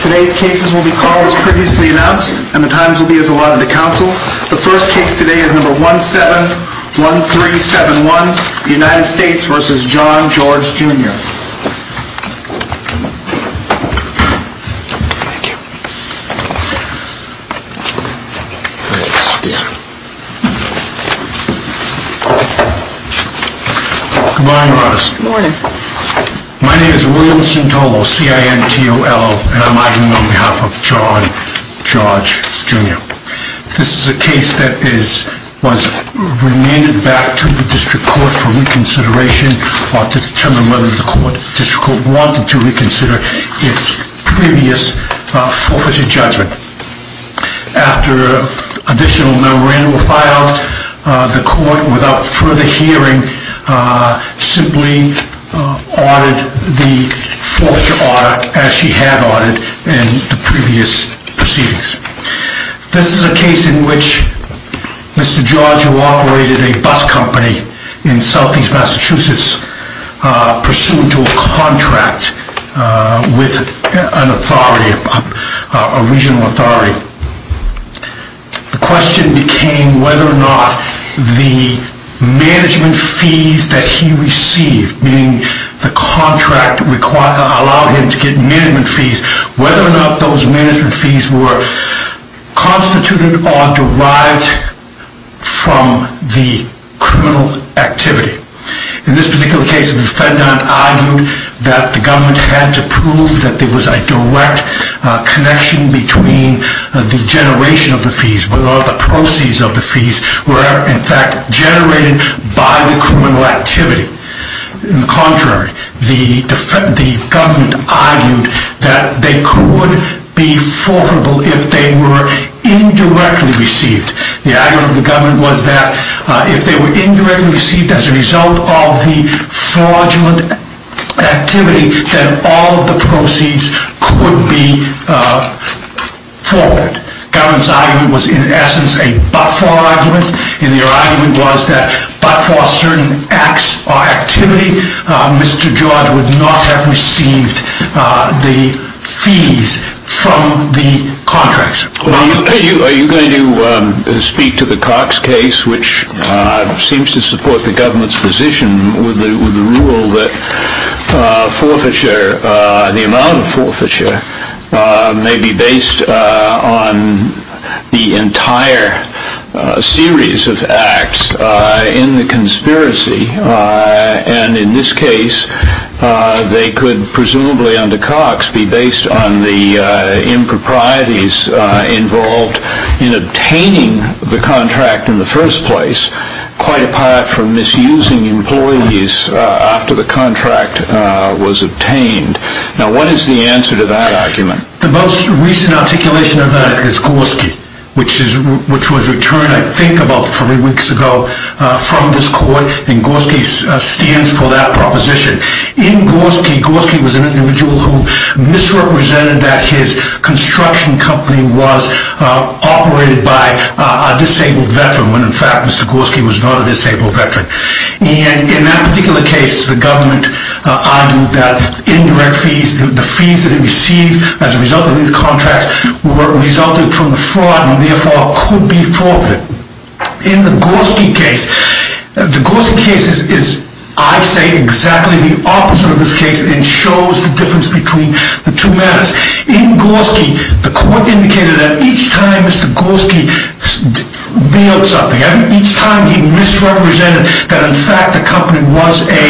Today's cases will be called as previously announced, and the times will be as allotted to counsel. The first case today is number 171371, United States v. John George, Jr. Thank you. Thanks. Yeah. Good morning, Rose. Good morning. My name is William Sintolo, C-I-N-T-O-L, and I'm arguing on behalf of John George, Jr. This is a case that was remanded back to the district court for reconsideration to determine whether the district court wanted to reconsider its previous forfeited judgment. After additional memorandum was filed, the court, without further hearing, simply ordered the fourth audit as she had ordered in the previous proceedings. This is a case in which Mr. George, who operated a bus company in southeast Massachusetts, pursued to a contract with an authority, a regional authority. The question became whether or not the management fees that he received, meaning the contract allowed him to get management fees, whether or not those management fees were constituted or derived from the criminal activity. In this particular case, the defendant argued that the government had to prove that there was a direct connection between the generation of the fees, whether or not the proceeds of the fees were, in fact, generated by the criminal activity. Contrary, the government argued that they could be forfeitable if they were indirectly received. The argument of the government was that if they were indirectly received as a result of the fraudulent activity, then all of the proceeds could be forfeit. The government's argument was, in essence, a but-for argument, and their argument was that but-for certain acts or activity, Mr. George would not have received the fees from the contracts. Are you going to speak to the Cox case, which seems to support the government's position with the rule that the amount of forfeiture may be based on the entire series of acts in the conspiracy? In this case, they could presumably, under Cox, be based on the improprieties involved in obtaining the contract in the first place, quite apart from misusing employees after the contract was obtained. Now, what is the answer to that argument? The most recent articulation of that is Gorski, which was returned, I think, about three weeks ago from this court, and Gorski stands for that proposition. In Gorski, Gorski was an individual who misrepresented that his construction company was operated by a disabled veteran, when, in fact, Mr. Gorski was not a disabled veteran. And in that particular case, the government argued that indirect fees, the fees that he received as a result of these contracts, resulted from the fraud and therefore could be forfeited. In the Gorski case, the Gorski case is, I say, exactly the opposite of this case, and shows the difference between the two matters. In Gorski, the court indicated that each time Mr. Gorski mailed something, each time he misrepresented that, in fact, the company was a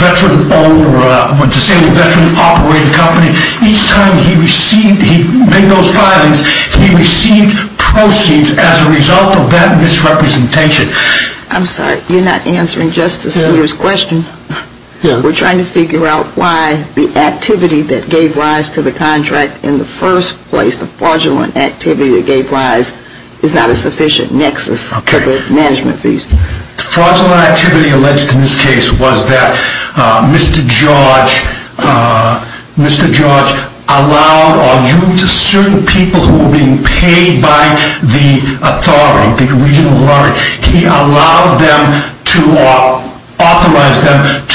veteran-owned or a disabled veteran-operated company, each time he made those filings, he received proceeds as a result of that misrepresentation. I'm sorry, you're not answering Justice Souter's question. We're trying to figure out why the activity that gave rise to the contract in the first place, the fraudulent activity that gave rise, is not a sufficient nexus for the management fees. Fraudulent activity alleged in this case was that Mr. George allowed or used certain people who were being paid by the authority, he allowed them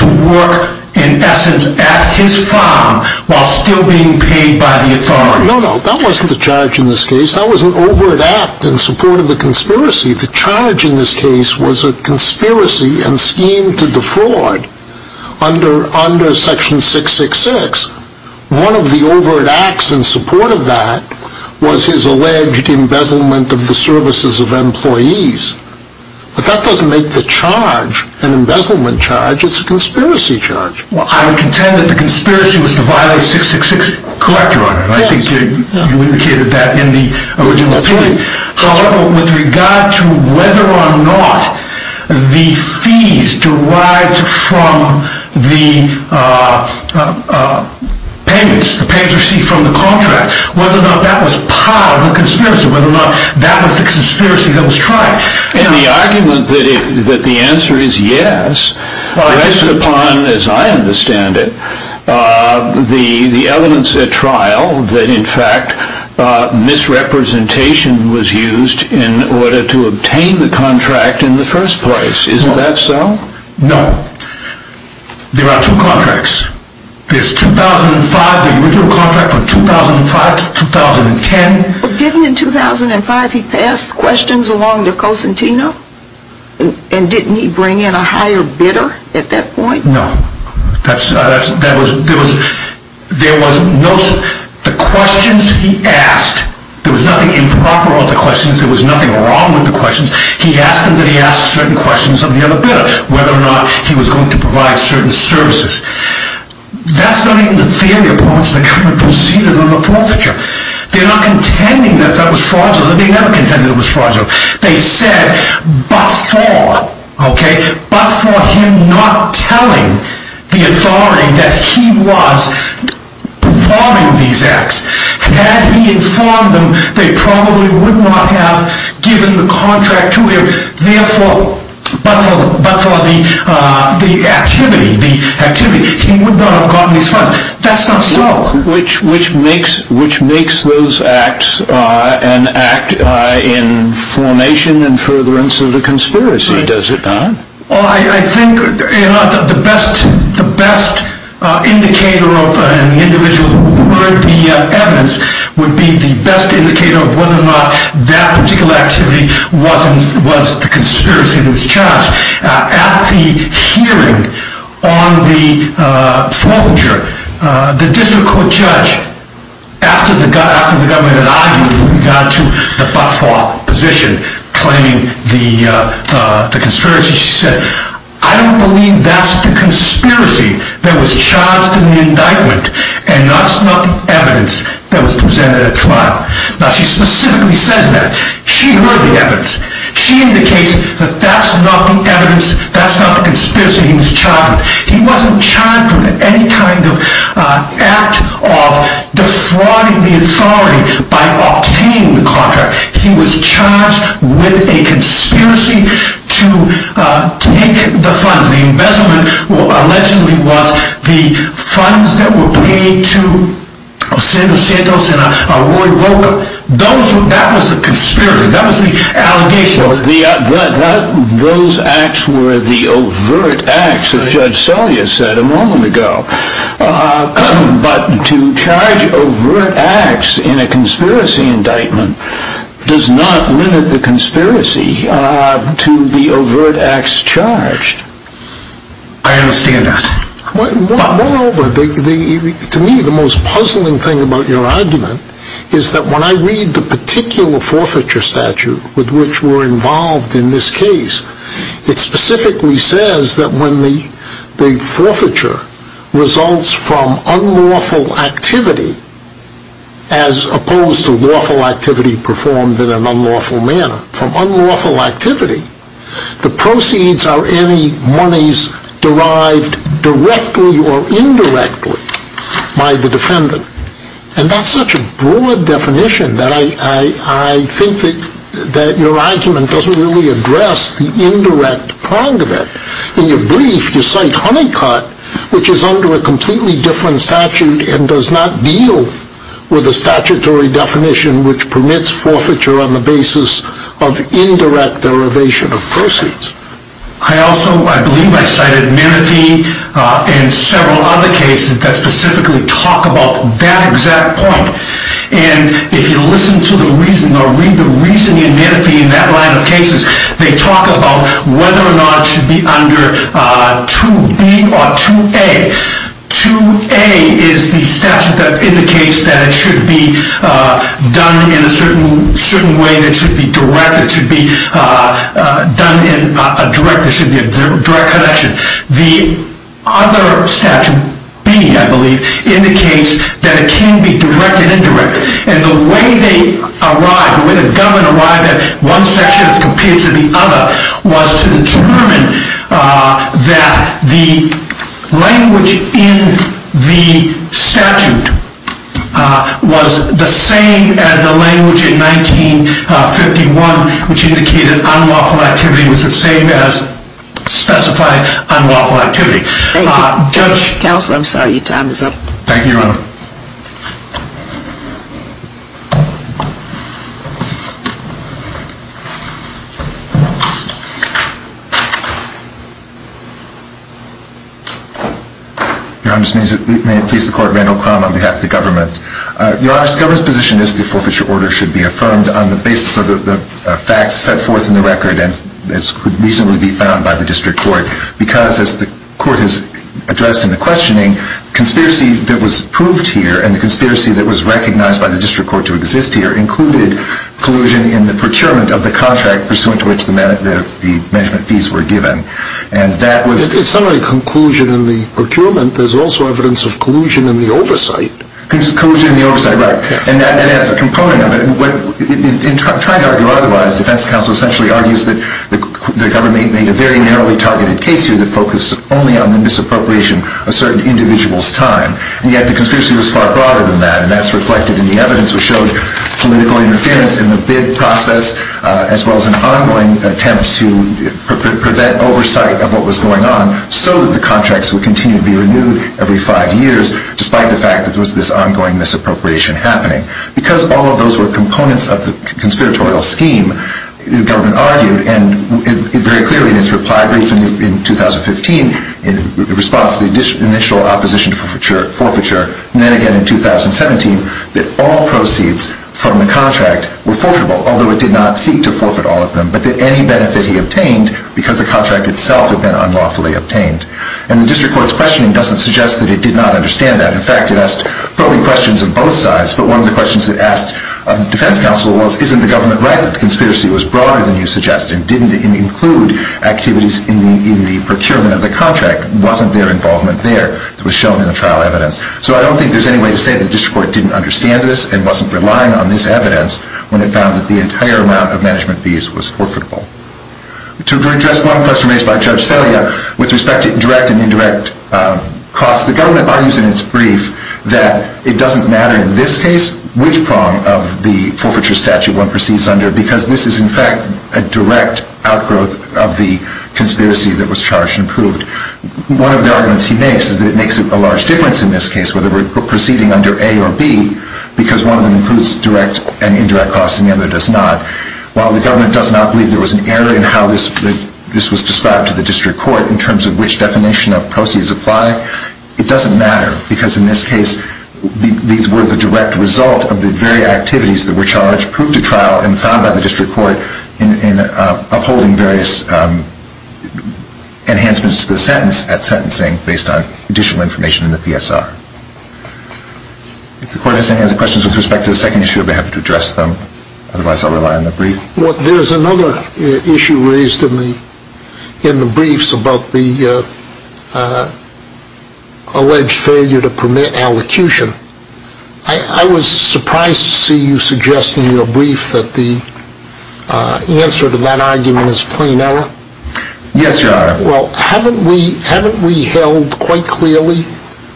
to work, in essence, at his farm while still being paid by the authority. No, no, that wasn't the charge in this case, that was an overt act in support of the conspiracy. The charge in this case was a conspiracy and scheme to defraud under section 666. One of the overt acts in support of that was his alleged embezzlement of the services of employees. But that doesn't make the charge an embezzlement charge, it's a conspiracy charge. Well, I would contend that the conspiracy was to violate 666, correct, Your Honor, and I think you indicated that in the original three. However, with regard to whether or not the fees derived from the payments received from the contract, whether or not that was part of the conspiracy, whether or not that was the conspiracy that was tried. And the argument that the answer is yes rests upon, as I understand it, the evidence at trial that, in fact, misrepresentation was used in order to obtain the contract in the first place. Isn't that so? No. There are two contracts. There's 2005, the original contract from 2005 to 2010. Well, didn't in 2005 he pass questions along to Cosentino? And didn't he bring in a higher bidder at that point? No. There was no, the questions he asked, there was nothing improper with the questions, there was nothing wrong with the questions. He asked them that he ask certain questions of the other bidder, whether or not he was going to provide certain services. That's not even the theory upon which the government proceeded on the forfeiture. They're not contending that that was fraudulent. They never contended it was fraudulent. They said, but for, okay, but for him not telling the authority that he was performing these acts. Had he informed them, they probably would not have given the contract to him. But for the activity, he would not have gotten these funds. That's not so. Which makes those acts an act in formation and furtherance of the conspiracy, does it not? Well, I think the best indicator of an individual would be evidence, would be the best indicator of whether or not that particular activity was the conspiracy that was charged. At the hearing on the forfeiture, the district court judge, after the government had argued that we got to the but-for position, claiming the conspiracy, she said, I don't believe that's the conspiracy that was charged in the indictment, and that's not the evidence that was presented at trial. Now, she specifically says that. She heard the evidence. She indicates that that's not the evidence, that's not the conspiracy he was charged with. He wasn't charged with any kind of act of defrauding the authority by obtaining the contract. He was charged with a conspiracy to take the funds. The embezzlement allegedly was the funds that were paid to Sandoz Santos and Roy Rocha. That was the conspiracy. That was the allegation. Those acts were the overt acts, as Judge Selye said a moment ago. But to charge overt acts in a conspiracy indictment does not limit the conspiracy to the overt acts charged. I understand that. Moreover, to me, the most puzzling thing about your argument is that when I read the particular forfeiture statute with which we're involved in this case, it specifically says that when the forfeiture results from unlawful activity, as opposed to lawful activity performed in an unlawful manner, the proceeds are any monies derived directly or indirectly by the defendant. And that's such a broad definition that I think that your argument doesn't really address the indirect prong of it. In your brief, you cite Honeycutt, which is under a completely different statute and does not deal with a statutory definition which permits forfeiture on the basis of indirect derivation of proceeds. I also, I believe I cited Menifee and several other cases that specifically talk about that exact point. And if you listen to the reasoning or read the reasoning in Menifee in that line of cases, they talk about whether or not it should be under 2B or 2A. 2A is the statute that indicates that it should be done in a certain way that should be direct, that should be done in a direct, that should be a direct connection. The other statute, B, I believe, indicates that it can be direct and indirect. And the way they arrive, the way the government arrived at one section as compared to the other, was to determine that the language in the statute was the same as the language in 1951, which indicated unlawful activity was the same as specified unlawful activity. Thank you. Counsel, I'm sorry. Your time is up. Thank you, Your Honor. Your Honor, may it please the Court, Randall Crum on behalf of the government. Your Honor, the government's position is that the forfeiture order should be affirmed on the basis of the facts set forth in the record and could reasonably be found by the district court because, as the court has addressed in the questioning, the conspiracy that was proved here and the conspiracy that was recognized by the district court to exist here included collusion in the procurement of the contract pursuant to which the management fees were given. And that was... It's not only collusion in the procurement. There's also evidence of collusion in the oversight. Collusion in the oversight. Right. And that adds a component of it. In trying to argue otherwise, defense counsel essentially argues that the government made a very narrowly targeted case here that focused only on the misappropriation of certain individuals' time. And yet the conspiracy was far broader than that, and that's reflected in the evidence which showed political interference in the bid process as well as an ongoing attempt to prevent oversight of what was going on so that the contracts would continue to be renewed every five years despite the fact that there was this ongoing misappropriation happening. Because all of those were components of the conspiratorial scheme, the government argued, and very clearly in its reply brief in 2015, in response to the initial opposition to forfeiture, and then again in 2017, that all proceeds from the contract were forfeitable, although it did not seek to forfeit all of them, but that any benefit he obtained because the contract itself had been unlawfully obtained. And the district court's questioning doesn't suggest that it did not understand that. In fact, it asked probing questions of both sides, but one of the questions it asked of the defense counsel was, isn't the government right that the conspiracy was broader than you suggest and didn't include activities in the procurement of the contract? Wasn't there involvement there? It was shown in the trial evidence. So I don't think there's any way to say the district court didn't understand this and wasn't relying on this evidence when it found that the entire amount of management fees was forfeitable. To address one question raised by Judge Selya with respect to direct and indirect costs, the government argues in its brief that it doesn't matter in this case which prong of the forfeiture statute one proceeds under because this is in fact a direct outgrowth of the conspiracy that was charged and proved. One of the arguments he makes is that it makes a large difference in this case, whether we're proceeding under A or B, because one of them includes direct and indirect costs and the other does not. While the government does not believe there was an error in how this was described to the district court in terms of which definition of proceeds apply, it doesn't matter because in this case these were the direct result of the very activities that were charged, proved to trial, and found by the district court in upholding various enhancements to the sentence at sentencing based on additional information in the PSR. If the court has any other questions with respect to the second issue, I'd be happy to address them. Otherwise, I'll rely on the brief. There's another issue raised in the briefs about the alleged failure to permit allocution. I was surprised to see you suggest in your brief that the answer to that argument is plain error. Yes, Your Honor. Well, haven't we held quite clearly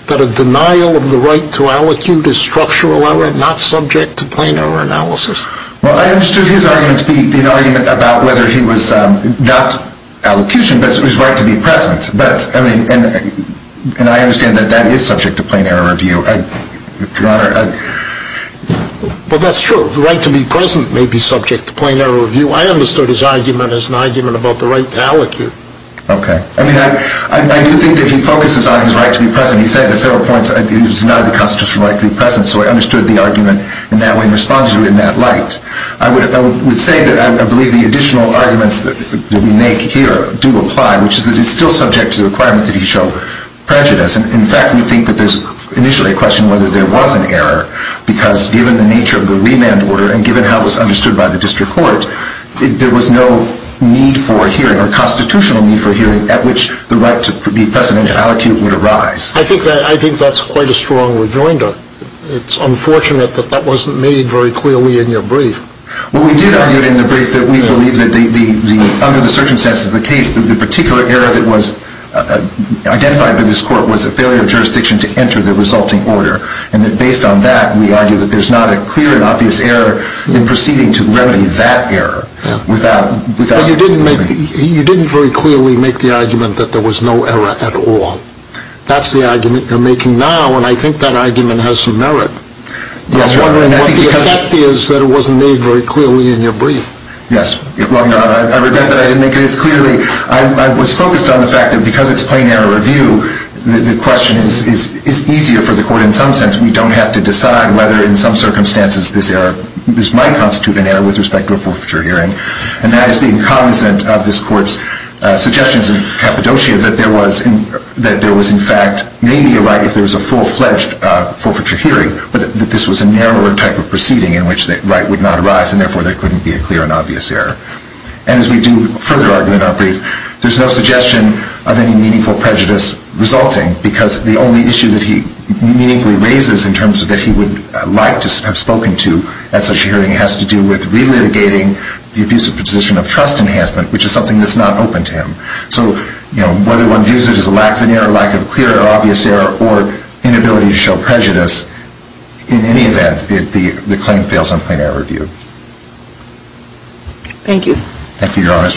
that a denial of the right to allocute is structural error, not subject to plain error analysis? Well, I understood his argument to be the argument about whether he was not allocution, but it was his right to be present. And I understand that that is subject to plain error review, Your Honor. Well, that's true. The right to be present may be subject to plain error review. I understood his argument as an argument about the right to allocate. Okay. I mean, I do think that he focuses on his right to be present. He said at several points he does not have the constitutional right to be present, so I understood the argument in that way in response to it in that light. I would say that I believe the additional arguments that we make here do apply, which is that it's still subject to the requirement that he show prejudice. In fact, we think that there's initially a question whether there was an error because given the nature of the remand order and given how it was understood by the district court, there was no need for a hearing or constitutional need for a hearing at which the right to be present and to allocate would arise. I think that's quite a strong rejoinder. It's unfortunate that that wasn't made very clearly in your brief. Well, we did argue in the brief that we believe that under the circumstances of the case that the particular error that was identified by this court was a failure of jurisdiction to enter the resulting order, and that based on that we argue that there's not a clear and obvious error in proceeding to remedy that error. You didn't very clearly make the argument that there was no error at all. That's the argument you're making now, and I think that argument has some merit. I'm wondering what the effect is that it wasn't made very clearly in your brief. I regret that I didn't make it as clearly. I was focused on the fact that because it's plain error review, the question is easier for the court in some sense. We don't have to decide whether in some circumstances this might constitute an error with respect to a forfeiture hearing, and that is being cognizant of this court's suggestions in Cappadocia that there was in fact maybe a right if there was a full-fledged forfeiture hearing, but that this was a narrower type of proceeding in which the right would not arise, and therefore there couldn't be a clear and obvious error. And as we do further argue in our brief, there's no suggestion of any meaningful prejudice resulting because the only issue that he meaningfully raises in terms of that he would like to have spoken to at such a hearing has to do with relitigating the abusive position of trust enhancement, which is something that's not open to him. So whether one views it as a lack of an error, lack of clear or obvious error, or inability to show prejudice, in any event, the claim fails on plain error review. Thank you. Thank you, Your Honor.